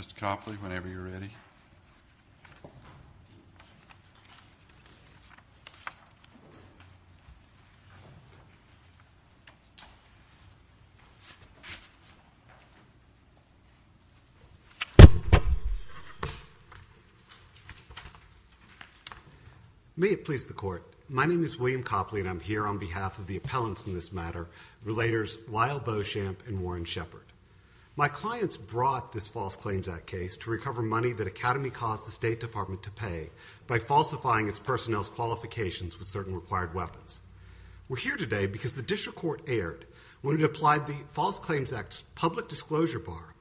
Mr. Copley, whenever you're ready. May it please the court. My name is William Copley and I'm here on behalf of the appellants in this matter, Relators Lyle Beauchamp and Warren Shepard. My clients brought this False Claims Act case to recover money that Academi caused the State Department to pay by falsifying its personnel's qualifications with certain required weapons. We're here today because the District Court erred when it applied the False Claims Act's public disclosure bar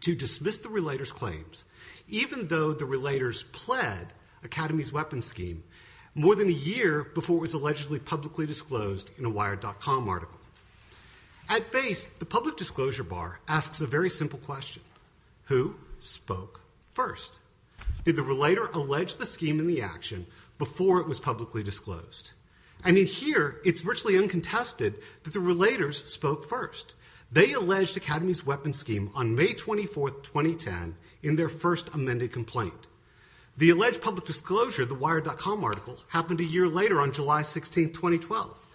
to dismiss the Relators' claims, even though the Relators pled Academi's weapons scheme more than a year before it was allegedly publicly disclosed in a Wired.com article. At base, the public disclosure bar asks a very simple question. Who spoke first? Did the Relator allege the scheme in the action before it was publicly disclosed? And in here, it's virtually uncontested that the Relators spoke first. They alleged Academi's weapons scheme on May 24th, 2010, in their first amended complaint. The alleged public disclosure, the Wired.com article, happened a year later on July 16th, 2012.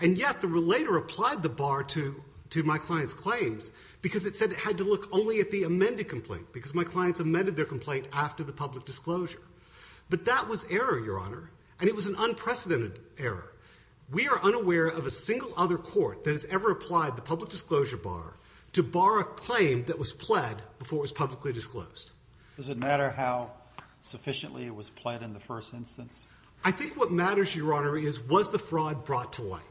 And yet, the Relator applied the bar to my client's claims because it said it had to look only at the amended complaint because my clients amended their complaint after the public disclosure. But that was an unprecedented error. We are unaware of a single other court that has ever applied the public disclosure bar to bar a claim that was pled before it was publicly disclosed. Does it matter how sufficiently it was pled in the first instance? I think what matters, Your Honor, is was the fraud brought to light?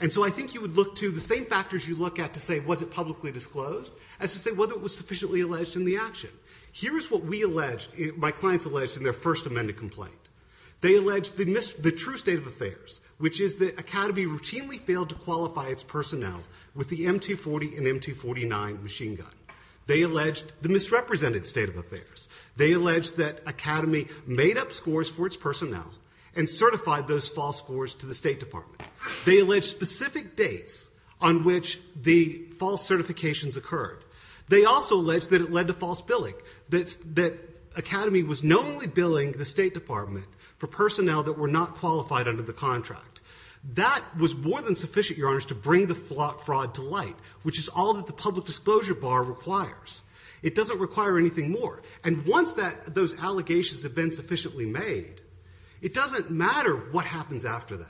And so I think you would look to the same factors you look at to say, was it publicly disclosed, as to say whether it was sufficiently alleged in the action. Here is what we alleged, my clients alleged in their first amended complaint. They alleged the true state of affairs, which is that Academi routinely failed to qualify its personnel with the M240 and M249 machine gun. They alleged the misrepresented state of affairs. They alleged that Academi made up scores for its personnel and certified those false scores to the State Department. They alleged specific dates on which the false certifications occurred. They also alleged that it led to false billing, that Academi was knowingly billing the State Department for personnel that were not qualified under the contract. That was more than sufficient, Your Honor, to bring the fraud to light, which is all that the public disclosure bar requires. It doesn't require anything more. And once those allegations have been sufficiently made, it doesn't matter what happens after that.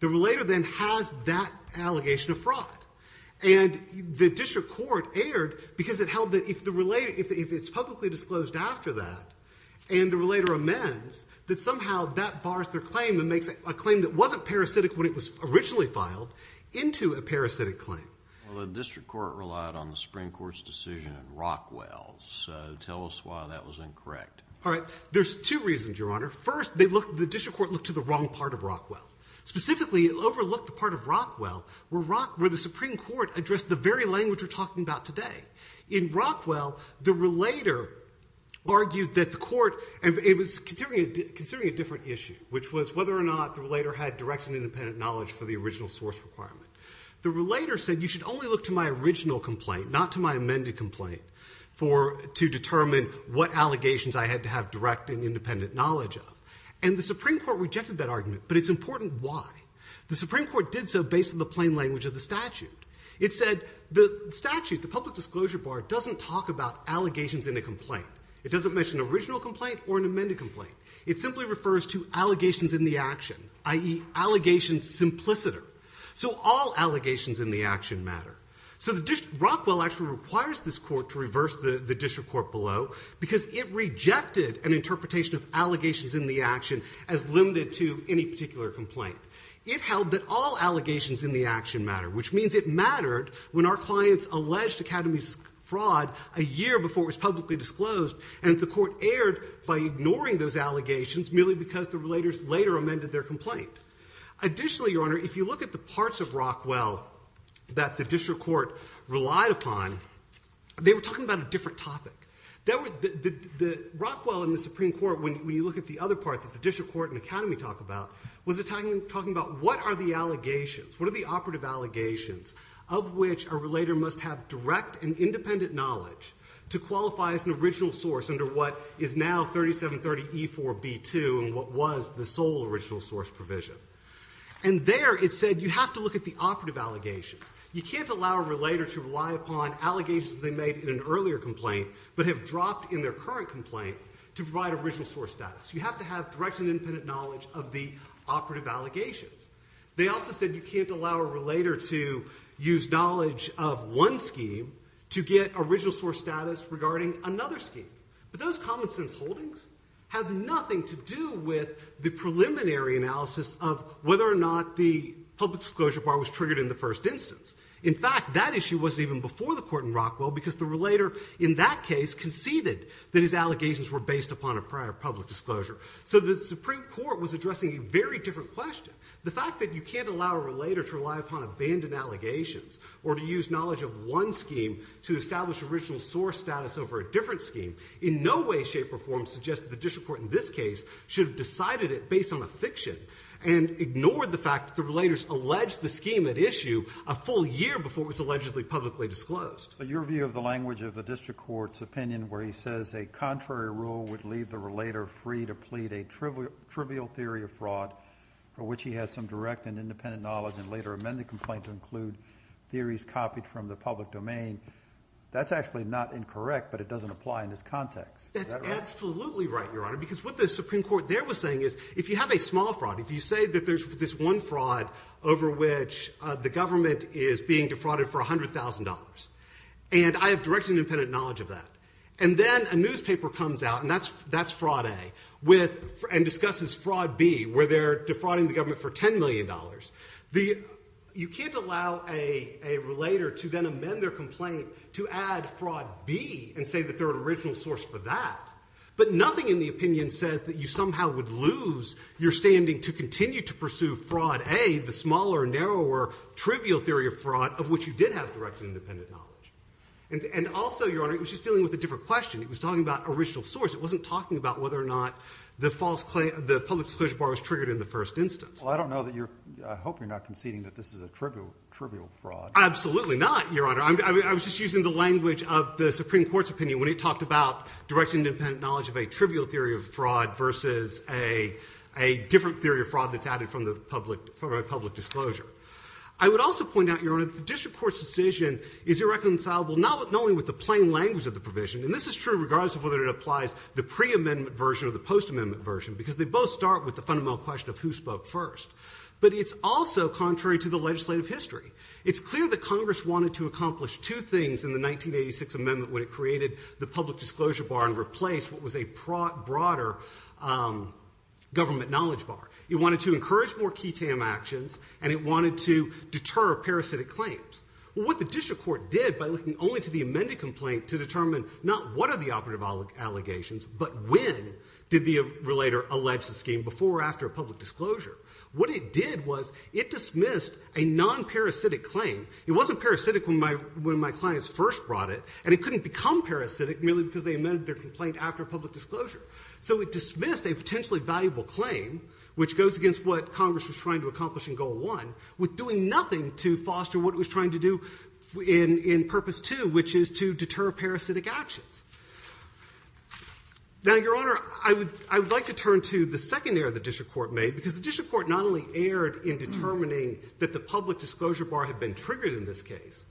The relator then has that allegation of fraud. And the district court erred because it held that if it's publicly disclosed after that and the relator amends, that somehow that bars their claim and makes a claim that wasn't parasitic when it was originally filed into a parasitic claim. Well, the district court relied on the Supreme Court's decision in Rockwell. So tell us why that was incorrect. All right. There's two reasons, Your Honor. First, the district court looked to the wrong part of Rockwell, where the Supreme Court addressed the very language we're talking about today. In Rockwell, the relator argued that the court, and it was considering a different issue, which was whether or not the relator had direct and independent knowledge for the original source requirement. The relator said, you should only look to my original complaint, not to my amended complaint, to determine what allegations I had to have direct and independent knowledge of. And the Supreme Court rejected that argument, but it's important why. The Supreme Court did so based on the plain language of the statute. It said the statute, the public disclosure bar, doesn't talk about allegations in a complaint. It doesn't mention an original complaint or an amended complaint. It simply refers to allegations in the action, i.e. allegations simpliciter. So all allegations in the action matter. So the district, Rockwell actually requires this court to reverse the district court below because it rejected an interpretation of allegations in the action as limited to any particular complaint. It held that all allegations in the action matter, which means it mattered when our clients alleged Academy's fraud a year before it was publicly disclosed, and the court erred by ignoring those allegations merely because the relators later amended their complaint. Additionally, Your Honor, if you look at the parts of Rockwell that the district court relied upon, they were talking about a different topic. The Rockwell in the Supreme Court, when you look at the other part that the district court and Academy talk about, was talking about what are the allegations, what are the operative allegations of which a relator must have direct and independent knowledge to qualify as an original source under what is now 3730E4B2 and what was the sole original source provision. And there it said you have to look at the operative allegations. You can't allow a relator to rely upon allegations they made in an earlier complaint but have dropped in their current complaint to provide original source status. You have to have direct and independent knowledge of the operative allegations. They also said you can't allow a relator to use knowledge of one scheme to get original source status regarding another scheme. But those common sense holdings have nothing to do with the preliminary analysis of whether or not the public disclosure bar was triggered in the first instance. In fact, that issue wasn't even before the court in Rockwell because the relator in that case conceded that his was addressing a very different question. The fact that you can't allow a relator to rely upon abandoned allegations or to use knowledge of one scheme to establish original source status over a different scheme in no way, shape, or form suggests that the district court in this case should have decided it based on a fiction and ignored the fact that the relators alleged the scheme at issue a full year before it was allegedly publicly disclosed. So your view of the language of the district court's opinion where he says a contrary rule would leave the relator free to plead a trivial theory of fraud for which he has some direct and independent knowledge and later amend the complaint to include theories copied from the public domain, that's actually not incorrect, but it doesn't apply in this context. That's absolutely right, Your Honor, because what the Supreme Court there was saying is if you have a small fraud, if you say that there's this one fraud over which the government is being defrauded for $100,000, and I have direct and independent knowledge of that, and then a newspaper comes out, and that's fraud A, and discusses fraud B, where they're defrauding the government for $10 million, you can't allow a relator to then amend their complaint to add fraud B and say that they're an original source for that. But nothing in the opinion says that you somehow would lose your standing to continue to pursue fraud A, the smaller, narrower, trivial theory of fraud of which you did have direct and independent knowledge. And also, Your Honor, it was just dealing with a different question. It was talking about original source. It wasn't talking about whether or not the public disclosure bar was triggered in the first instance. Well, I don't know that you're, I hope you're not conceding that this is a trivial fraud. Absolutely not, Your Honor. I was just using the language of the Supreme Court's opinion when it talked about direct and independent knowledge of a trivial theory of fraud versus a different theory of fraud that's added from a public disclosure. I would also point out, Your Honor, that the district court's decision is irreconcilable not only with the plain language of the provision, and this is true regardless of whether it applies the pre-amendment version or the post-amendment version, because they both start with the fundamental question of who spoke first. But it's also contrary to the legislative history. It's clear that Congress wanted to accomplish two things in the 1986 amendment when it created the public disclosure bar and replaced what was a broader government knowledge bar. It wanted to encourage more key TAM actions, and it wanted to deter parasitic claims. Well, what the district court did by looking only to the amended complaint to determine not what are the operative allegations, but when did the relator allege the scheme before or after a public disclosure, what it did was it dismissed a non-parasitic claim. It wasn't parasitic when my clients first brought it, and it couldn't become parasitic merely because they amended their complaint after a public disclosure. So it dismissed a potentially valuable claim, which goes against what Congress was trying to accomplish in goal one, with doing nothing to foster what it was trying to do in purpose two, which is to deter parasitic actions. Now, Your Honor, I would like to turn to the second error the district court made, because the district court not only erred in determining that the public disclosure bar had been triggered in this case,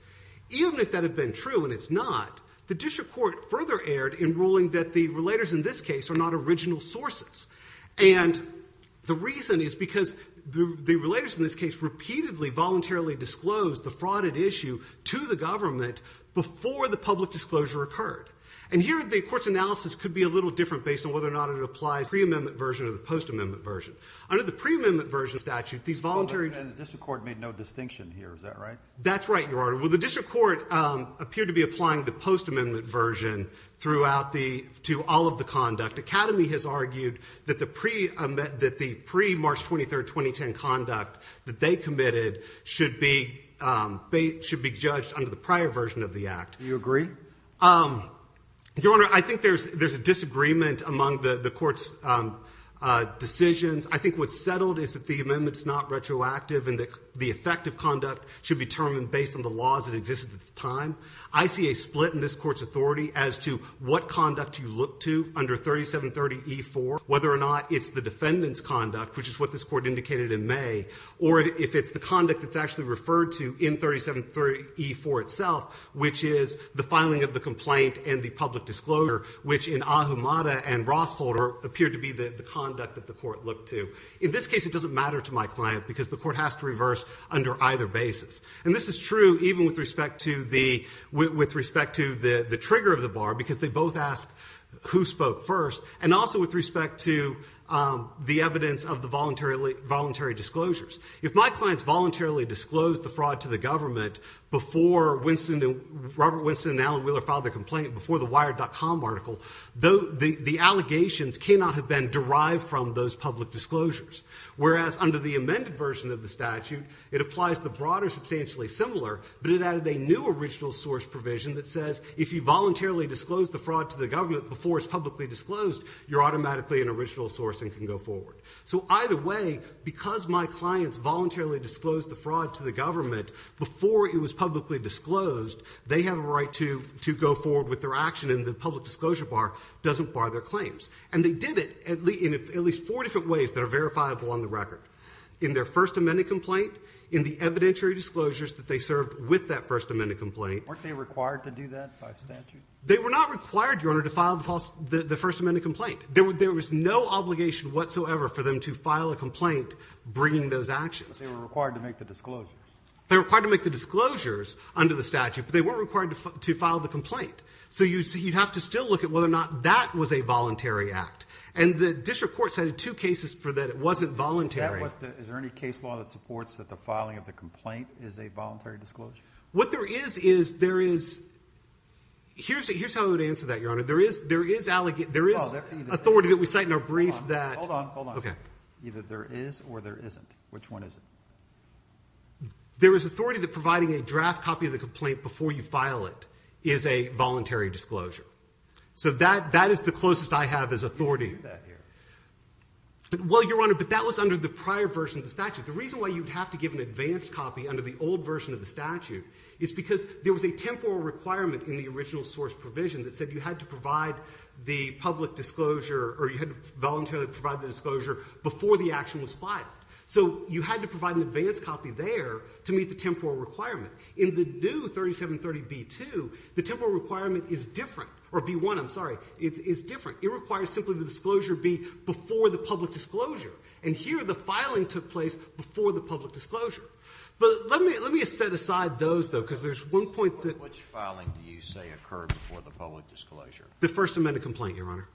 even if that had been true and it's not, the district court further erred in ruling that the relators in this case are not original sources. And the reason is because the relators in this case repeatedly voluntarily disclosed the frauded issue to the government before the public disclosure occurred. And here the court's analysis could be a little different based on whether or not it applies pre-amendment version or the post-amendment version. Under the pre-amendment version statute, these voluntary- And the district court made no distinction here, is that right? That's right, Your Honor. Well, the district court appeared to be applying the post-amendment version to all of the conduct. Academy has argued that the pre-March 23, 2010 conduct that they committed should be judged under the prior version of the act. Do you agree? Your Honor, I think there's a disagreement among the court's decisions. I think what's settled is that the amendment's not retroactive and that the effect of conduct should be determined based on the laws that existed at the time. I see a split in this court's authority as to what conduct you look to under 3730E4, whether or not it's the defendant's conduct, which is what this court indicated in May, or if it's the conduct that's actually referred to in 3730E4 itself, which is the filing of the complaint and the public disclosure, which in Ahumada and Rossholder appeared to be the conduct that the court looked to. In this case, it doesn't matter to my client because the court has to reverse under either basis. And this is true even with respect to the trigger of the bar, because they both asked who spoke first, and also with respect to the evidence of the voluntary disclosures. If my clients voluntarily disclosed the fraud to the government before Robert Winston and Alan Wheeler filed their complaint, before the Wired.com article, the allegations cannot have been derived from those public disclosures, whereas under the amended version of the statute, it applies the broader substantially similar, but it added a new original source provision that says if you voluntarily disclosed the fraud to the government before it's publicly disclosed, you're automatically an original source and can go forward. So either way, because my clients voluntarily disclosed the fraud to the government before it was publicly disclosed, they have a right to go forward with their action, and the public disclosure bar doesn't bar their claims. And they did it in at least four different ways that are verifiable on the record. In their first amended complaint, in the evidentiary disclosures that they served with that first amended complaint. Weren't they required to do that by statute? They were not required, Your Honor, to file the first amended complaint. There was no obligation whatsoever for them to file a complaint bringing those actions. But they were required to make the disclosures. They were required to make the disclosures under the statute, but they weren't required to file the complaint. So you'd have to still look at whether or not that was a voluntary act. And the district court cited two cases for that it wasn't voluntary. Is there any case law that supports that the filing of the complaint is a voluntary disclosure? What there is, is there is, here's how I would answer that, Your Honor. There is, there is, there is authority that we cite in our brief that, hold on, hold on. Either there is or there isn't. Which one is it? There is authority that providing a draft copy of the complaint before you file it is a voluntary disclosure. So that, that is the closest I have as authority. Well, Your Honor, but that was under the prior version of the statute. The reason why you'd have to give an advanced copy under the old version of the statute is because there was a temporal requirement in the original source provision that said you had to provide the public disclosure, or you had to voluntarily provide the disclosure before the action was filed. So you had to provide an advanced copy there to meet the temporal requirement. In the new 3730B-2, the temporal requirement is different, or B-1, I'm sorry, is, is different. It requires simply the disclosure be before the public disclosure. And here the filing took place before the public disclosure. But let me, let me set aside those, though, because there's one point that. Which filing do you say occurred before the public disclosure? The first amended complaint, Your Honor.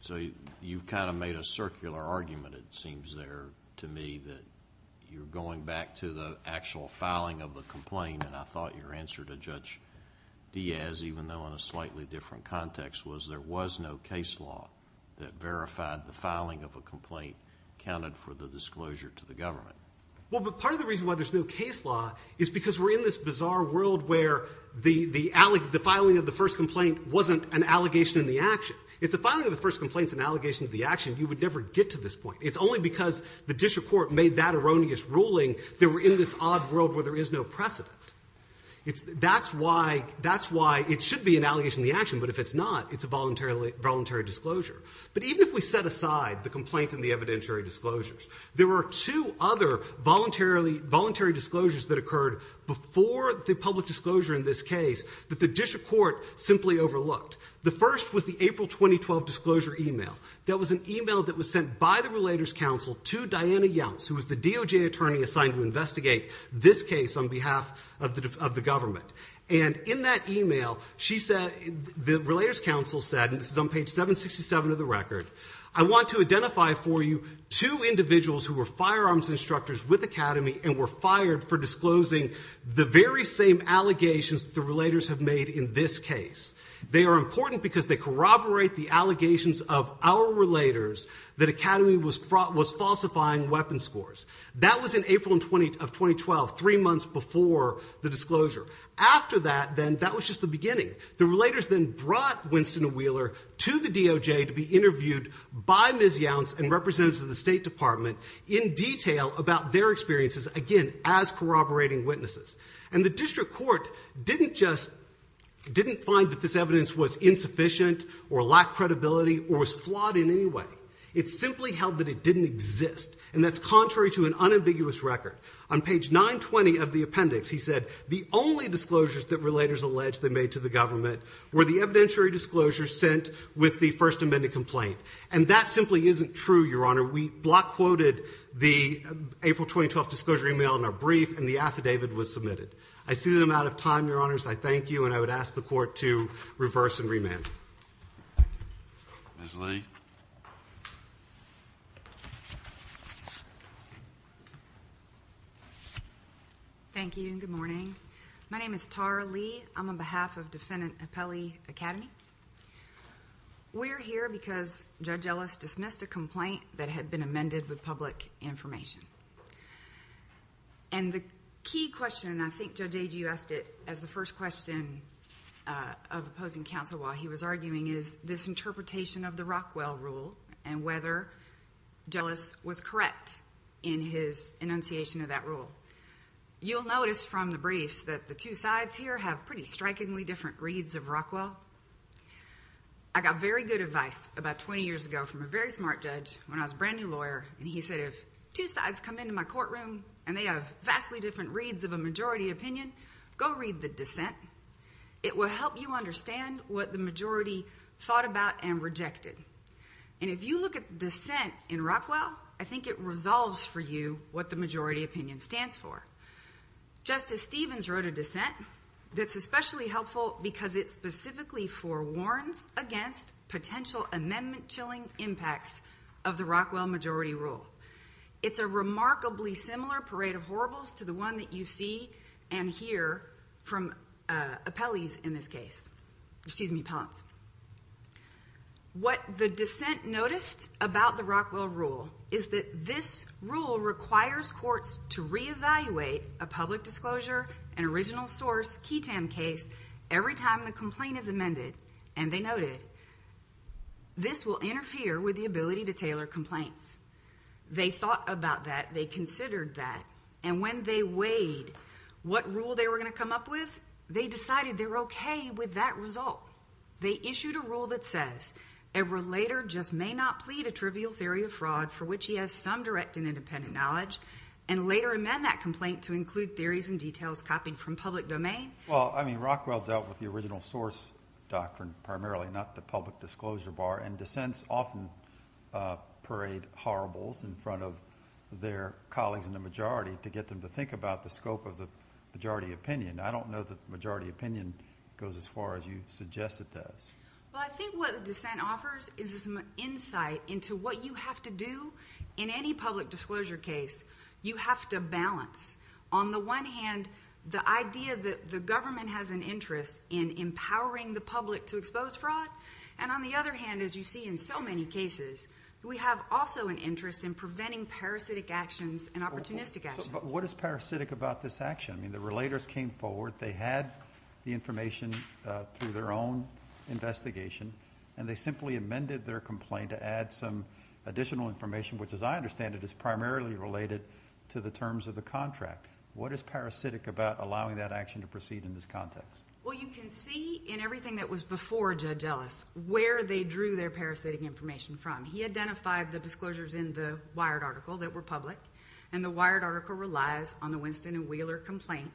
So you've kind of made a circular argument, it seems there to me, that you're going back to the actual filing of the complaint, and I thought your answer to Judge Diaz, even though in a slightly different context, was there was no case law that verified the filing of a complaint accounted for the disclosure to the government. Well, but part of the reason why there's no case law is because we're in this bizarre world where the, the filing of the first complaint wasn't an allegation in the action. If the filing of the first complaint's an allegation to the action, you would never get to this point. It's only because the district court made that erroneous ruling that we're in this odd world where there is no precedent. It's, that's why, that's why it should be an allegation in the action, but if it's not, it's a voluntary, voluntary disclosure. But even if we set aside the complaint and the evidentiary disclosures, there were two other voluntarily, voluntary disclosures that occurred before the public disclosure in this case that the district court simply overlooked. The first was the April 2012 disclosure email. That was an email that was sent by the Relators Council to Diana Younce, who was the DOJ attorney assigned to investigate this case on behalf of the, of the government. And in that email, she said, the Relators Council said, and this is on page 767 of the record, I want to identify for you two individuals who were firearms instructors with Academy and were fired for disclosing the very same allegations that the Relators have made in this case. They are important because they corroborate the allegations of our Relators that Academy was falsifying weapons scores. That was in April of 2012, three months before the disclosure. After that, then, that was just the beginning. The Relators then brought Winston Wheeler to the DOJ to be interviewed by Ms. Younce and representatives of the State Department in detail about their experiences, again, as corroborating witnesses. And the district court didn't just, didn't find that this evidence was insufficient or lacked credibility or was flawed in any way. It simply held that it didn't exist. And that's contrary to an unambiguous record. On page 920 of the appendix, he said, the only disclosures that Relators allege they made to the government were the evidentiary disclosures sent with the First Amendment complaint. And that simply isn't true, Your Honor. We block quoted the April 2012 disclosure email in our brief, and the affidavit was submitted. I see the amount of time, Your Honors. I thank you. And I would ask the Court to reverse and re-mail. Ms. Lee. Thank you. Good morning. My name is Tara Lee. I'm on behalf of Defendant Apelli Academy. We're here because Judge Ellis dismissed a complaint that had been amended with public information. And the key question, and I think Judge Agee asked it as the first question of opposing counsel while he was arguing, is this interpretation of the Rockwell rule and whether Ellis was correct in his enunciation of that rule. You'll notice from the briefs that the two sides here have pretty strikingly different opinions of Rockwell. I got very good advice about 20 years ago from a very smart judge when I was a brand new lawyer, and he said if two sides come into my courtroom and they have vastly different reads of a majority opinion, go read the dissent. It will help you understand what the majority thought about and rejected. And if you look at the dissent in Rockwell, I think it resolves for you what the majority opinion stands for. Justice Stevens wrote a dissent that's especially helpful because it specifically forewarns against potential amendment chilling impacts of the Rockwell majority rule. It's a remarkably similar parade of horribles to the one that you see and hear from Apellis in this case. What the dissent noticed about the Rockwell rule is that this rule requires courts to evaluate a public disclosure, an original source, Ketam case, every time the complaint is amended, and they noted this will interfere with the ability to tailor complaints. They thought about that, they considered that, and when they weighed what rule they were going to come up with, they decided they were okay with that result. They issued a rule that says a relator just may not plead a trivial theory of fraud for which he has some direct and independent knowledge, and later amend that complaint to include theories and details copied from public domain. Well, I mean, Rockwell dealt with the original source doctrine primarily, not the public disclosure bar, and dissents often parade horribles in front of their colleagues in the majority to get them to think about the scope of the majority opinion. I don't know that the majority opinion goes as far as you suggest it does. Well, I think what the dissent offers is some insight into what you have to do in any public disclosure case. You have to balance, on the one hand, the idea that the government has an interest in empowering the public to expose fraud, and on the other hand, as you see in so many cases, we have also an interest in preventing parasitic actions and opportunistic actions. What is parasitic about this action? I mean, the relators came forward, they had the information through their own investigation, and they simply amended their complaint to add some additional information, which as I understand it, is primarily related to the terms of the contract. What is parasitic about allowing that action to proceed in this context? Well, you can see in everything that was before Judge Ellis where they drew their parasitic information from. He identified the disclosures in the Wired article that were public, and the Wired article relies on the Winston and Wheeler complaint,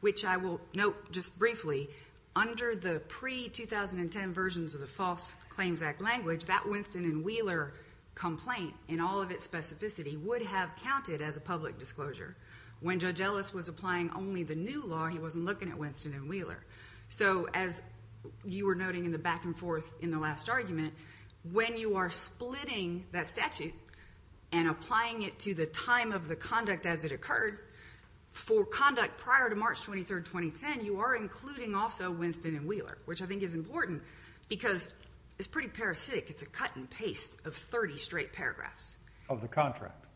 which I will note just briefly, under the pre-2010 versions of the False Claims Act language, that Winston and Wheeler complaint, in all of its specificity, would have counted as a public disclosure. When Judge Ellis was applying only the new law, he wasn't looking at Winston and Wheeler. So as you were noting in the back and forth in the last argument, when you are splitting that statute and applying it to the time of the conduct as it occurred, for conduct prior to March 23, 2010, you are including also Winston and Wheeler, which I think is important because it's pretty parasitic. It's a cut and paste of 30 straight paragraphs. Of the contract.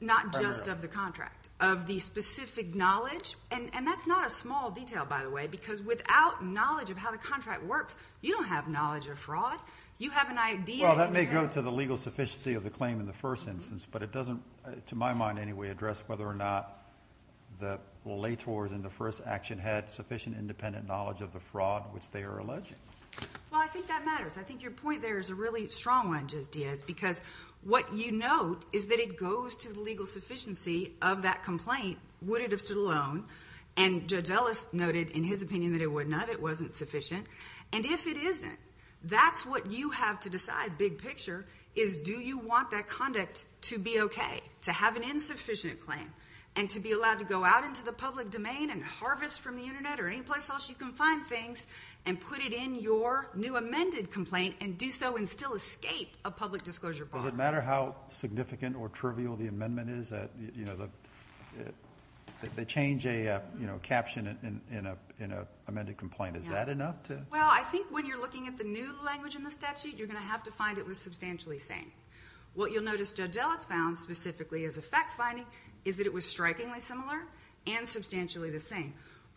Not just of the contract. Of the specific knowledge, and that's not a small detail, by the way, because without knowledge of how the contract works, you don't have knowledge of fraud. You have an idea. Well, that may go to the legal sufficiency of the claim in the first instance, but it doesn't, to my mind anyway, address whether or not the litigators in the first action had sufficient independent knowledge of the fraud which they are alleging. Well, I think that matters. I think your point there is a really strong one, Judge Diaz, because what you note is that it goes to the legal sufficiency of that complaint, would it have stood alone, and Judge Ellis noted in his opinion that it would not, it wasn't sufficient, and if it isn't, that's what you have to decide, big picture, is do you want that conduct to be okay? To have an insufficient claim, and to be allowed to go out into the public domain and harvest from the internet or any place else you can find things, and put it in your new amended complaint and do so and still escape a public disclosure problem? Does it matter how significant or trivial the amendment is that, you know, they change a caption in an amended complaint, is that enough to? Well, I think when you're looking at the new language in the statute, you're going to have to find it was substantially the same. What you'll notice Judge Ellis found specifically as a fact finding is that it was strikingly similar and substantially the same,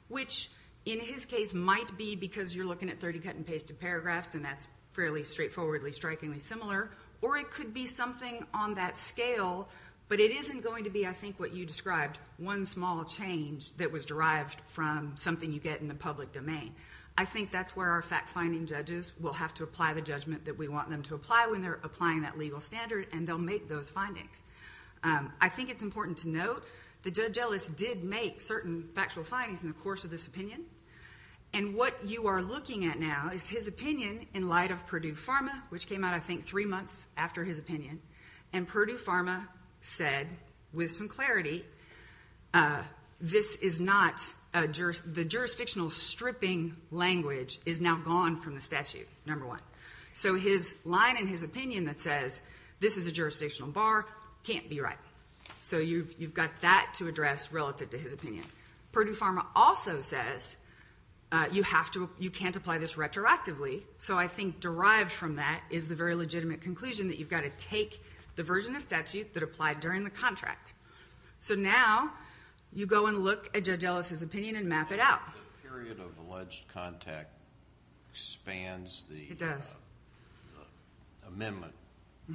which in his case might be because you're looking at 30 cut and pasted paragraphs and that's fairly straightforwardly strikingly similar, or it could be something on that scale, but it isn't going to be, I think, what you described, one small change that was derived from something you get in the public domain. I think that's where our fact finding judges will have to apply the judgment that we want them to apply when they're applying that legal standard, and they'll make those findings. I think it's important to note that Judge Ellis did make certain factual findings in the course of this opinion, and what you are looking at now is his opinion in light of Purdue Pharma, which came out, I think, three months after his opinion, and Purdue Pharma said with some clarity, the jurisdictional stripping language is now gone from the statute, number one. His line in his opinion that says, this is a jurisdictional bar, can't be right. You've got that to address relative to his opinion. Purdue Pharma also says, you can't apply this retroactively, so I think derived from that is the very legitimate conclusion that you've got to take the version of statute that applied during the contract. Now, you go and look at Judge Ellis' opinion and map it out. The period of alleged contact expands the amendment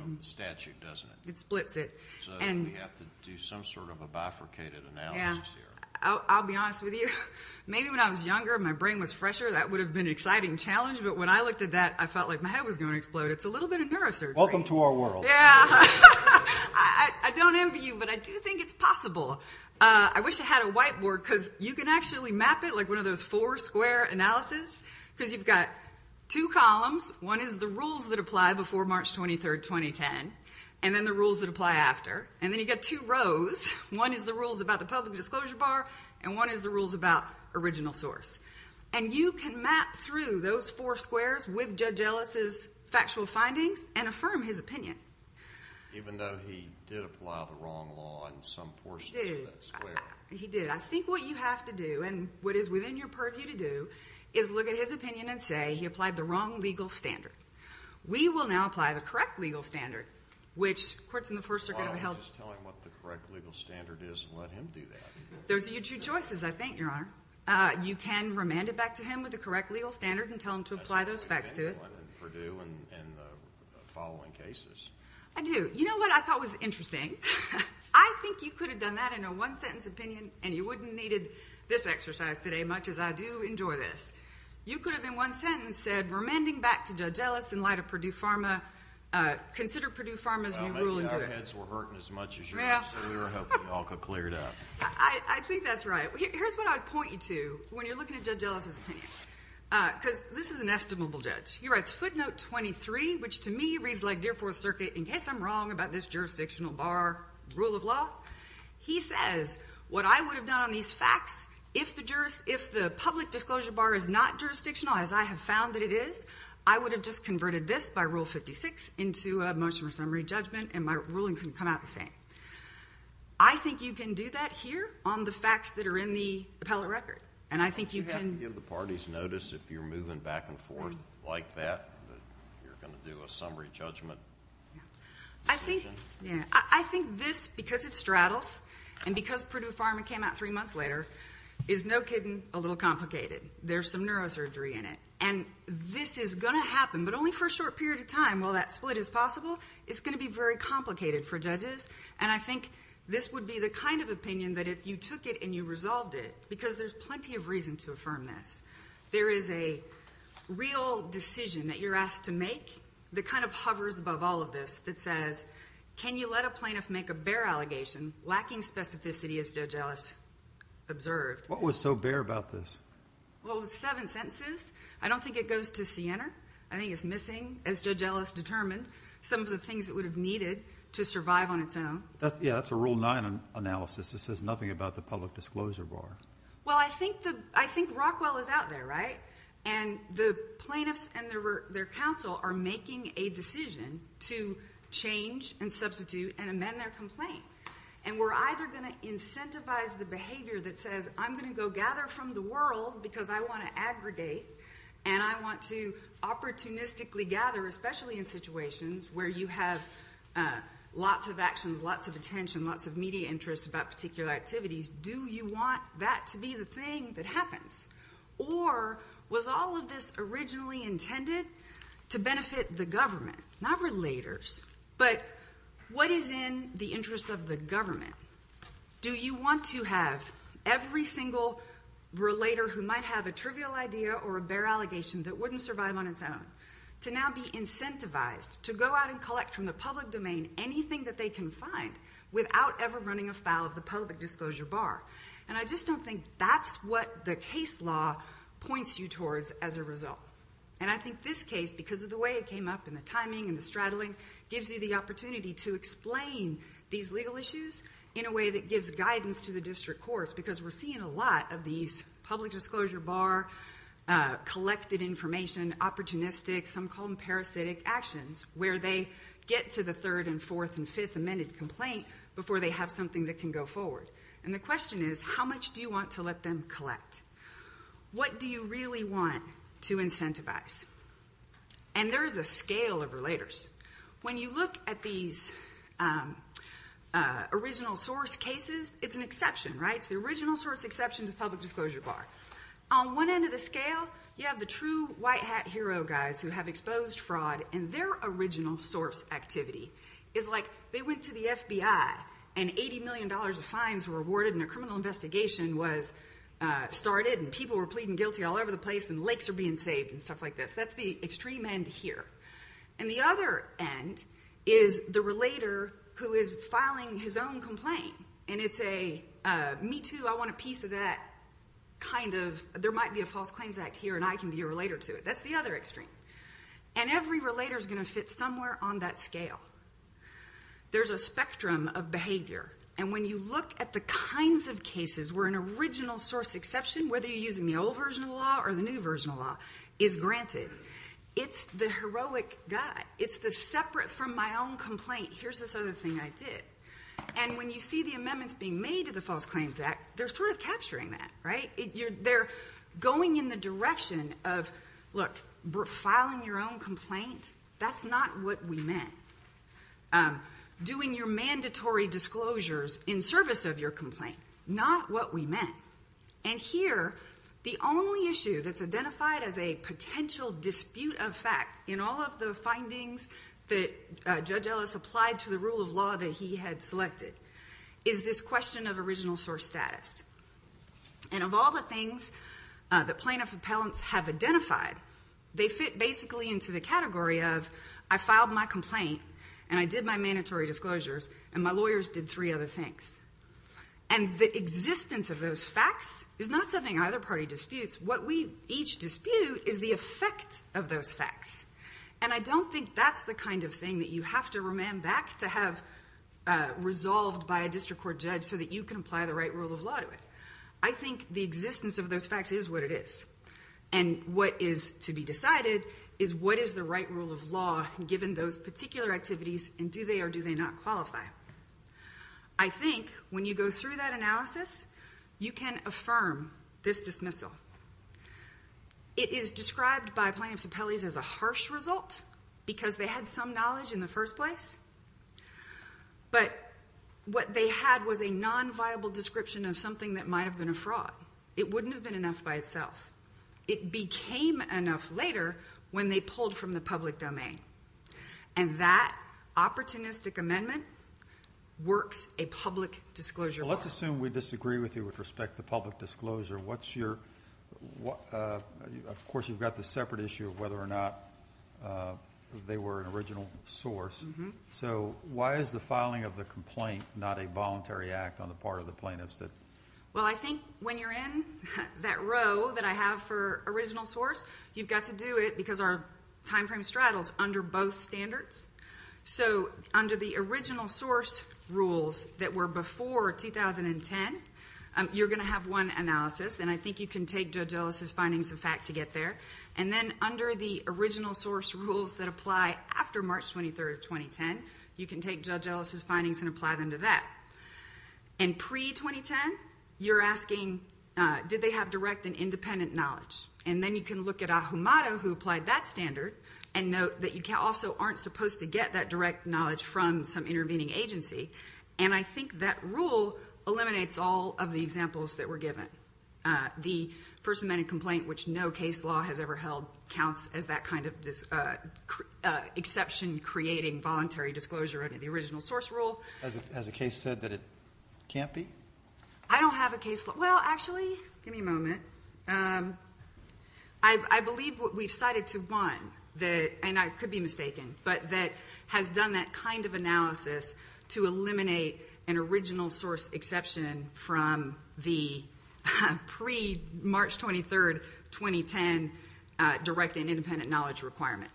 of the statute, doesn't it? It splits it. We have to do some sort of a bifurcated analysis here. I'll be honest with you, maybe when I was younger, my brain was fresher. That would have been an exciting challenge, but when I looked at that, I felt like my brain was going to explode. It's a little bit of neurosurgery. Welcome to our world. Yeah. I don't envy you, but I do think it's possible. I wish I had a whiteboard, because you can actually map it like one of those four-square analysis, because you've got two columns. One is the rules that apply before March 23, 2010, and then the rules that apply after. Then you've got two rows. One is the rules about the public disclosure bar, and one is the rules about original source. You can map through those four squares with Judge Ellis's factual findings and affirm his opinion. Even though he did apply the wrong law in some portions of that square? He did. I think what you have to do, and what is within your purview to do, is look at his opinion and say he applied the wrong legal standard. We will now apply the correct legal standard, which courts in the First Circuit have held... Why don't we just tell him what the correct legal standard is and let him do that? Those are your two choices, I think, Your Honor. You can remand it back to him with the correct legal standard and tell him to apply those facts to it. That's what we did in Purdue in the following cases. I do. You know what I thought was interesting? I think you could have done that in a one-sentence opinion, and you wouldn't have needed this exercise today much, as I do enjoy this. You could have, in one sentence, said, remanding back to Judge Ellis in light of Purdue Pharma, consider Purdue Pharma's new rule... Well, maybe our heads were hurting as much as you were, so we were hoping you all could clear it up. I think that's right. Here's what I'd point you to when you're looking at Judge Ellis's opinion, because this is an estimable judge. He writes footnote 23, which to me reads like Dear Fourth Circuit, in case I'm wrong about this jurisdictional bar rule of law. He says, what I would have done on these facts, if the public disclosure bar is not jurisdictional as I have found that it is, I would have just converted this by Rule 56 into a motion for summary judgment, and my rulings would come out the same. I think you can do that here on the facts that are in the appellate record, and I think you can... You have to give the parties notice if you're moving back and forth like that, that you're going to do a summary judgment decision. I think this, because it straddles, and because Purdue Pharma came out three months later, is no kidding a little complicated. There's some neurosurgery in it, and this is going to happen, but only for a short period of time. While that split is possible, it's going to be very complicated for judges, and I think this would be the kind of opinion that if you took it and you resolved it, because there's plenty of reason to affirm this, there is a real decision that you're asked to make that hovers above all of this, that says, can you let a plaintiff make a bare allegation lacking specificity as Judge Ellis observed? What was so bare about this? Well, it was seven sentences. I don't think it goes to Siena. I think it's missing, as Judge Ellis determined, some of the things that would have needed to survive on its own. Yeah, that's a Rule 9 analysis that says nothing about the public disclosure bar. Well, I think Rockwell is out there, right? The plaintiffs and their counsel are making a decision to change and substitute and amend their complaint, and we're either going to incentivize the behavior that says, I'm going to go gather from the world because I want to aggregate, and I want to opportunistically gather, especially in situations where you have lots of actions, lots of attention, lots of media interest about particular activities. Do you want that to be the thing that happens? Or was all of this originally intended to benefit the government, not relators, but what is in the interest of the government? Do you want to have every single relator who might have a trivial idea or a bare allegation that wouldn't survive on its own to now be incentivized to go out and collect from the public domain anything that they can find without ever running afoul of the public disclosure bar? I just don't think that's what the case law points you towards as a result. I think this case, because of the way it came up and the timing and the straddling, gives you the opportunity to explain these legal issues in a way that gives guidance to the district courts, because we're seeing a lot of these public disclosure bar, collected information, opportunistic, some call them parasitic actions, where they get to the third and fourth and fifth amended complaint before they have something that can go forward. The question is, how much do you want to let them collect? What do you really want to incentivize? There's a scale of relators. When you look at these original source cases, it's an exception, right? It's the original source exceptions of public disclosure bar. On one end of the scale, you have the true white hat hero guys who have exposed fraud and their original source activity is like they went to the FBI and $80 million of fines were awarded and a criminal investigation was started and people were pleading guilty all over the place and lakes are being saved and stuff like this. That's the extreme end here. The other end is the relator who is filing his own complaint and it's a, me too, I want a piece of that, kind of, there might be a false claims act here and I can be a relator to it. That's the other extreme. Every relator is going to fit somewhere on that scale. There's a spectrum of behavior. When you look at the kinds of cases where an original source exception, whether you're using the old version of the law or the new version of the law, is granted. It's the heroic guy. It's the separate from my own complaint, here's this other thing I did and when you see the amendments being made to the false claims act, they're sort of capturing that, right? They're going in the direction of, look, filing your own complaint, that's not what we meant. Doing your mandatory disclosures in service of your complaint, not what we meant and here, the only issue that's identified as a potential dispute of fact in all of the findings that Judge Ellis applied to the rule of law that he had selected is this question of original source status and of all the things that plaintiff appellants have identified, they fit basically into the category of, I filed my complaint and I did my mandatory disclosures and my lawyers did three other things. The existence of those facts is not something either party disputes, what we each dispute is the effect of those facts and I don't think that's the kind of thing that you have to remand back to have resolved by a district court judge so that you can apply the right rule of law to it. I think the existence of those facts is what it is and what is to be decided is what is the right rule of law given those particular activities and do they or do they not qualify? I think when you go through that analysis, you can affirm this dismissal. It is described by plaintiffs appellees as a harsh result because they had some knowledge in the first place, but what they had was a non-viable description of something that might have been a fraud. It wouldn't have been enough by itself. It became enough later when they pulled from the public domain and that opportunistic amendment works a public disclosure well. Let's assume we disagree with you with respect to public disclosure, what's your, of course you've got the separate issue of whether or not they were an original source. So why is the filing of the complaint not a voluntary act on the part of the plaintiffs? Well I think when you're in that row that I have for original source, you've got to do it because our time frame straddles under both standards. So under the original source rules that were before 2010, you're going to have one analysis and I think you can take Judge Ellis' findings of fact to get there. And then under the original source rules that apply after March 23rd, 2010, you can take Judge Ellis' findings and apply them to that. And pre-2010, you're asking did they have direct and independent knowledge? And then you can look at Ahumada who applied that standard and note that you also aren't supposed to get that direct knowledge from some intervening agency. And I think that rule eliminates all of the examples that were given. The first amended complaint which no case law has ever held counts as that kind of exception creating voluntary disclosure under the original source rule. Has a case said that it can't be? I don't have a case, well actually, give me a moment. I believe what we've cited to one, and I could be mistaken, but that has done that kind of analysis to eliminate an original source exception from the pre-March 23rd, 2010 direct and independent knowledge requirement.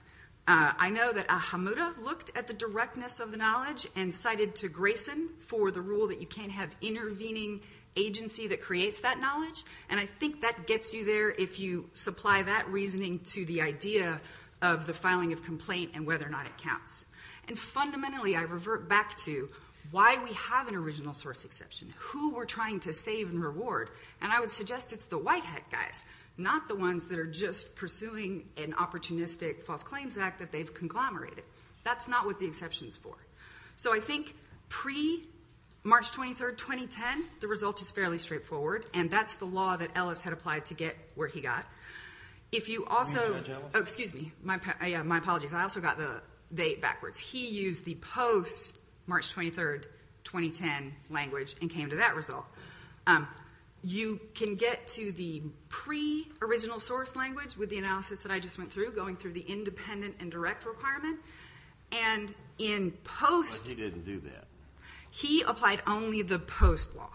I know that Ahumada looked at the directness of the knowledge and cited to Grayson for the rule that you can't have intervening agency that creates that knowledge. And I think that gets you there if you supply that reasoning to the idea of the filing of complaint and whether or not it counts. And fundamentally, I revert back to why we have an original source exception. Who we're trying to save and reward. And I would suggest it's the white hat guys, not the ones that are just pursuing an opportunistic false claims act that they've conglomerated. That's not what the exception's for. So I think pre-March 23rd, 2010, the result is fairly straightforward. And that's the law that Ellis had applied to get where he got. If you also, excuse me, my apologies, I also got the date backwards. He used the post-March 23rd, 2010 language and came to that result. You can get to the pre-original source language with the analysis that I just went through, going through the independent and direct requirement. And in post- But he didn't do that. He applied only the post law.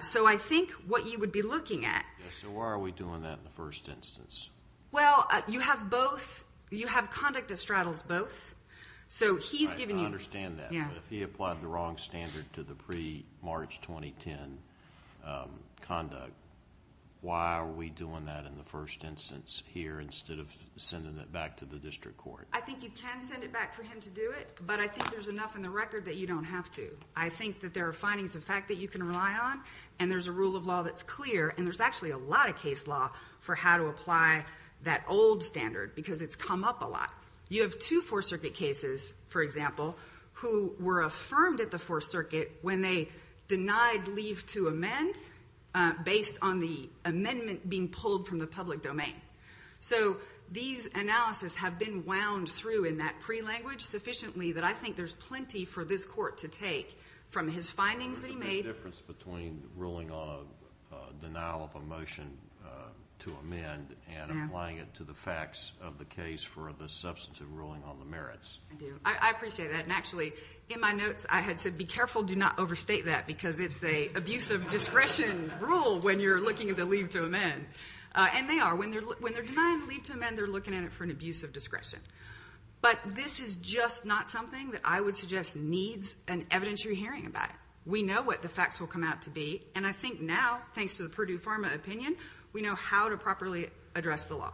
So I think what you would be looking at- So why are we doing that in the first instance? Well, you have both, you have conduct that straddles both. So he's giving you- Right, I understand that. But if he applied the wrong standard to the pre-March 2010 conduct, why are we doing that in the first instance here instead of sending it back to the district court? I think you can send it back for him to do it, but I think there's enough in the record that you don't have to. I think that there are findings of fact that you can rely on, and there's a rule of law that's clear, and there's actually a lot of case law for how to apply that old standard because it's come up a lot. You have two Fourth Circuit cases, for example, who were affirmed at the Fourth Circuit when they denied leave to amend based on the amendment being pulled from the public domain. So these analysis have been wound through in that pre-language sufficiently that I think there's plenty for this court to take from his findings that he made- What's the difference between ruling on a denial of a motion to amend and applying it to the facts of the case for the substantive ruling on the merits? I appreciate that. And actually, in my notes, I had said, be careful, do not overstate that because it's a abuse of discretion rule when you're looking at the leave to amend. And they are. When they're denying leave to amend, they're looking at it for an abuse of discretion. But this is just not something that I would suggest needs an evidentiary hearing about it. We know what the facts will come out to be, and I think now, thanks to the Purdue Pharma opinion, we know how to properly address the law.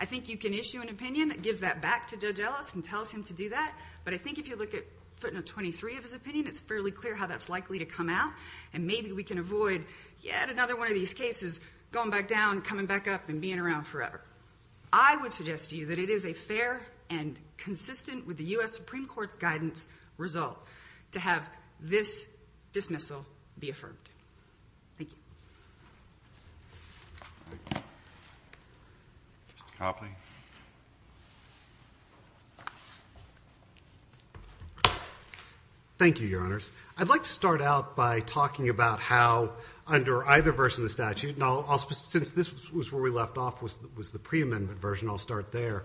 I think you can issue an opinion that gives that back to Judge Ellis and tells him to do that, but I think if you look at footnote 23 of his opinion, it's fairly clear how that's likely to come out, and maybe we can avoid yet another one of these cases going back down, coming back up, and being around forever. I would suggest to you that it is a fair and consistent with the U.S. Supreme Court's guidance result to have this dismissal be affirmed. Thank you. Mr. Copley. Thank you, Your Honors. I'd like to start out by talking about how, under either version of the statute, and I'll since this was where we left off, was the pre-amendment version, I'll start there.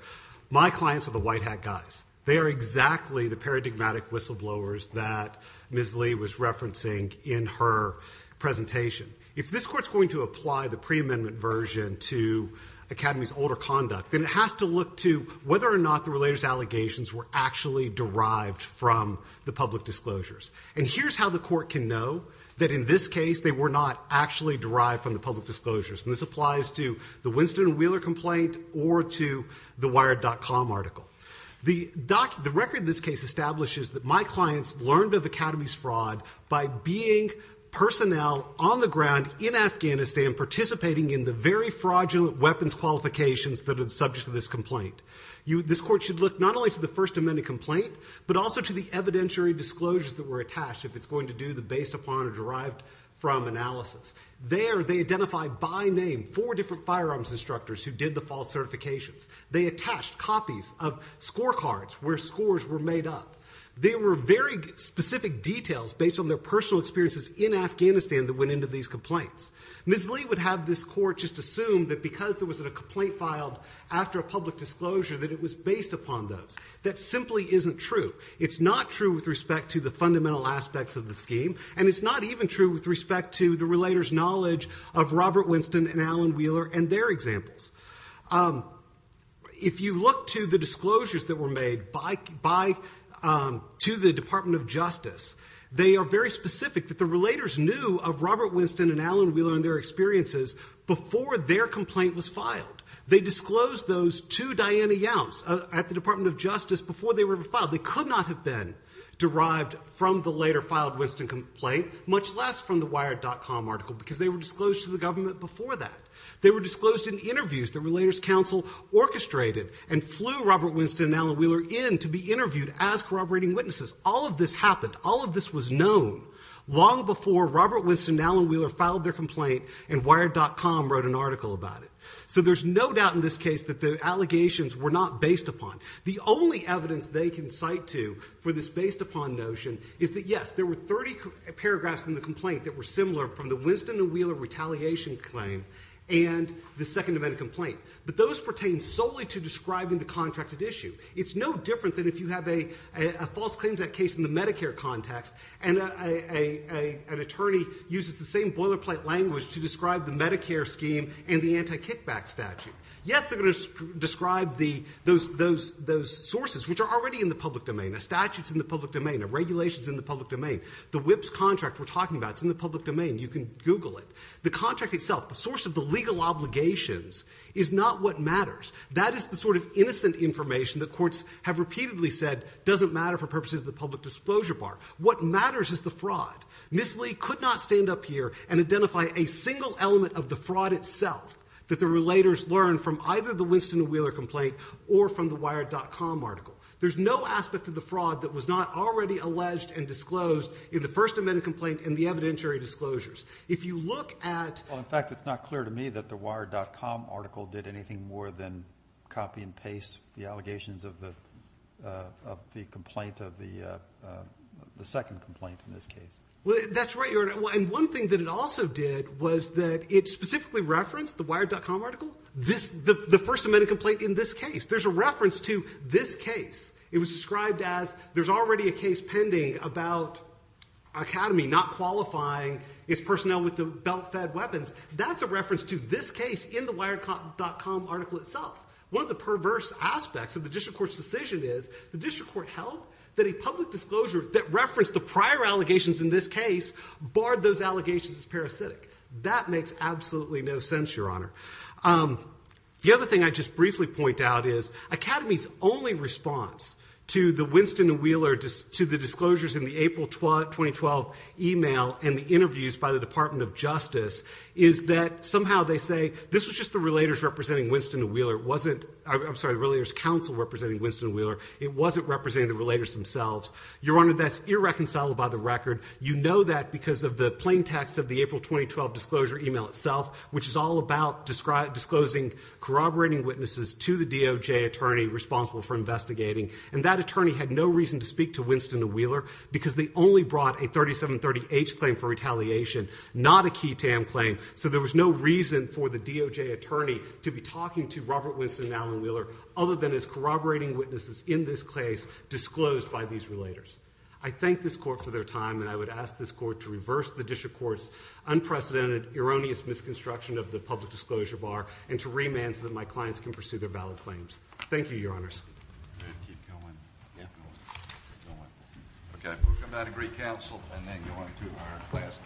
My clients are the white hat guys. They are exactly the paradigmatic whistleblowers that Ms. Lee was referencing in her presentation. If this Court's going to apply the pre-amendment version to Academy's older conduct, then it has to look to whether or not the relator's allegations were actually derived from the public disclosures. And here's how the Court can know that, in this case, they were not actually derived from the public disclosures. And this applies to the Winston Wheeler complaint or to the Wired.com article. The record in this case establishes that my clients learned of Academy's fraud by being personnel on the ground in Afghanistan participating in the very fraudulent weapons qualifications that are the subject of this complaint. This Court should look not only to the First Amendment complaint, but also to the evidentiary disclosures that were attached, if it's going to do the based upon or derived from analysis. There, they identified by name four different firearms instructors who did the false certifications. They attached copies of scorecards where scores were made up. There were very specific details based on their personal experiences in Afghanistan that went into these complaints. Ms. Lee would have this Court just assume that because there was a complaint filed after a public disclosure that it was based upon those. That simply isn't true. It's not true with respect to the fundamental aspects of the scheme, and it's not even true with respect to the relator's knowledge of Robert Winston and Alan Wheeler and their examples. If you look to the disclosures that were made to the Department of Justice, they are very specific that the relators knew of Robert Winston and Alan Wheeler and their experiences before their complaint was filed. They disclosed those to Diana Youms at the Department of Justice before they were ever filed. They could not have been derived from the later filed Winston complaint, much less from the Wired.com article, because they were disclosed to the government before that. They were disclosed in interviews the Relators Council orchestrated and flew Robert Winston and Alan Wheeler in to be interviewed as corroborating witnesses. All of this happened. All of this was known long before Robert Winston and Alan Wheeler filed their complaint and Wired.com wrote an article about it. So there's no doubt in this case that the allegations were not based upon. The only evidence they can cite to for this based upon notion is that, yes, there were 30 paragraphs in the complaint that were similar from the Winston and Wheeler retaliation claim and the second event complaint. But those pertain solely to describing the contracted issue. It's no different than if you have a false claim to that case in the Medicare context and an attorney uses the same boilerplate language to describe the Medicare scheme and the anti-kickback statute. Yes, they're going to describe those sources, which are already in the public domain. A statute's in the public domain. A regulation's in the public domain. The WHIPS contract we're talking about is in the public domain. You can Google it. The contract itself, the source of the legal obligations, is not what matters. That is the sort of innocent information that courts have repeatedly said doesn't matter for purposes of the public disclosure bar. What matters is the fraud. Ms. Lee could not stand up here and identify a single element of the fraud itself that the relators learned from either the Winston and Wheeler complaint or from the Wired.com article. There's no aspect of the fraud that was not already alleged and disclosed in the First Amendment complaint and the evidentiary disclosures. If you look at... Well, in fact, it's not clear to me that the Wired.com article did anything more than copy and paste the allegations of the complaint of the second complaint in this case. That's right, Your Honor. And one thing that it also did was that it specifically referenced the Wired.com article, the First Amendment complaint in this case. There's a reference to this case. It was described as there's already a case pending about Academy not qualifying its personnel with the belt-fed weapons. That's a reference to this case in the Wired.com article itself. One of the perverse aspects of the district court's decision is the district court held that a public disclosure that referenced the prior allegations in this case barred those allegations as parasitic. That makes absolutely no sense, Your Honor. The other thing I'd just briefly point out is Academy's only response to the Winston and Wheeler... to the disclosures in the April 2012 email and the interviews by the Department of Justice is that somehow they say this was just the relators representing Winston and Wheeler. It wasn't... I'm sorry, the Relators Council representing Winston and Wheeler. It wasn't representing the relators themselves. Your Honor, that's irreconcilable by the record. You know that because of the plain text of the April 2012 disclosure email itself, which is all about disclosing corroborating witnesses to the DOJ attorney responsible for investigating. And that attorney had no reason to speak to Winston and Wheeler because they only brought a 3730H claim for retaliation, not a key TAM claim. So there was no reason for the DOJ attorney to be talking to Robert Winston and Alan Wheeler other than as corroborating witnesses in this case disclosed by these relators. I thank this court for their time and I would ask this court to reverse the district court's unprecedented, erroneous misconstruction of the public disclosure bar and to remand so that my clients can pursue their valid claims. Thank you, Your Honors. Keep going. Keep going. Keep going. Okay, we'll come back to Greek Council and then go on to our last case.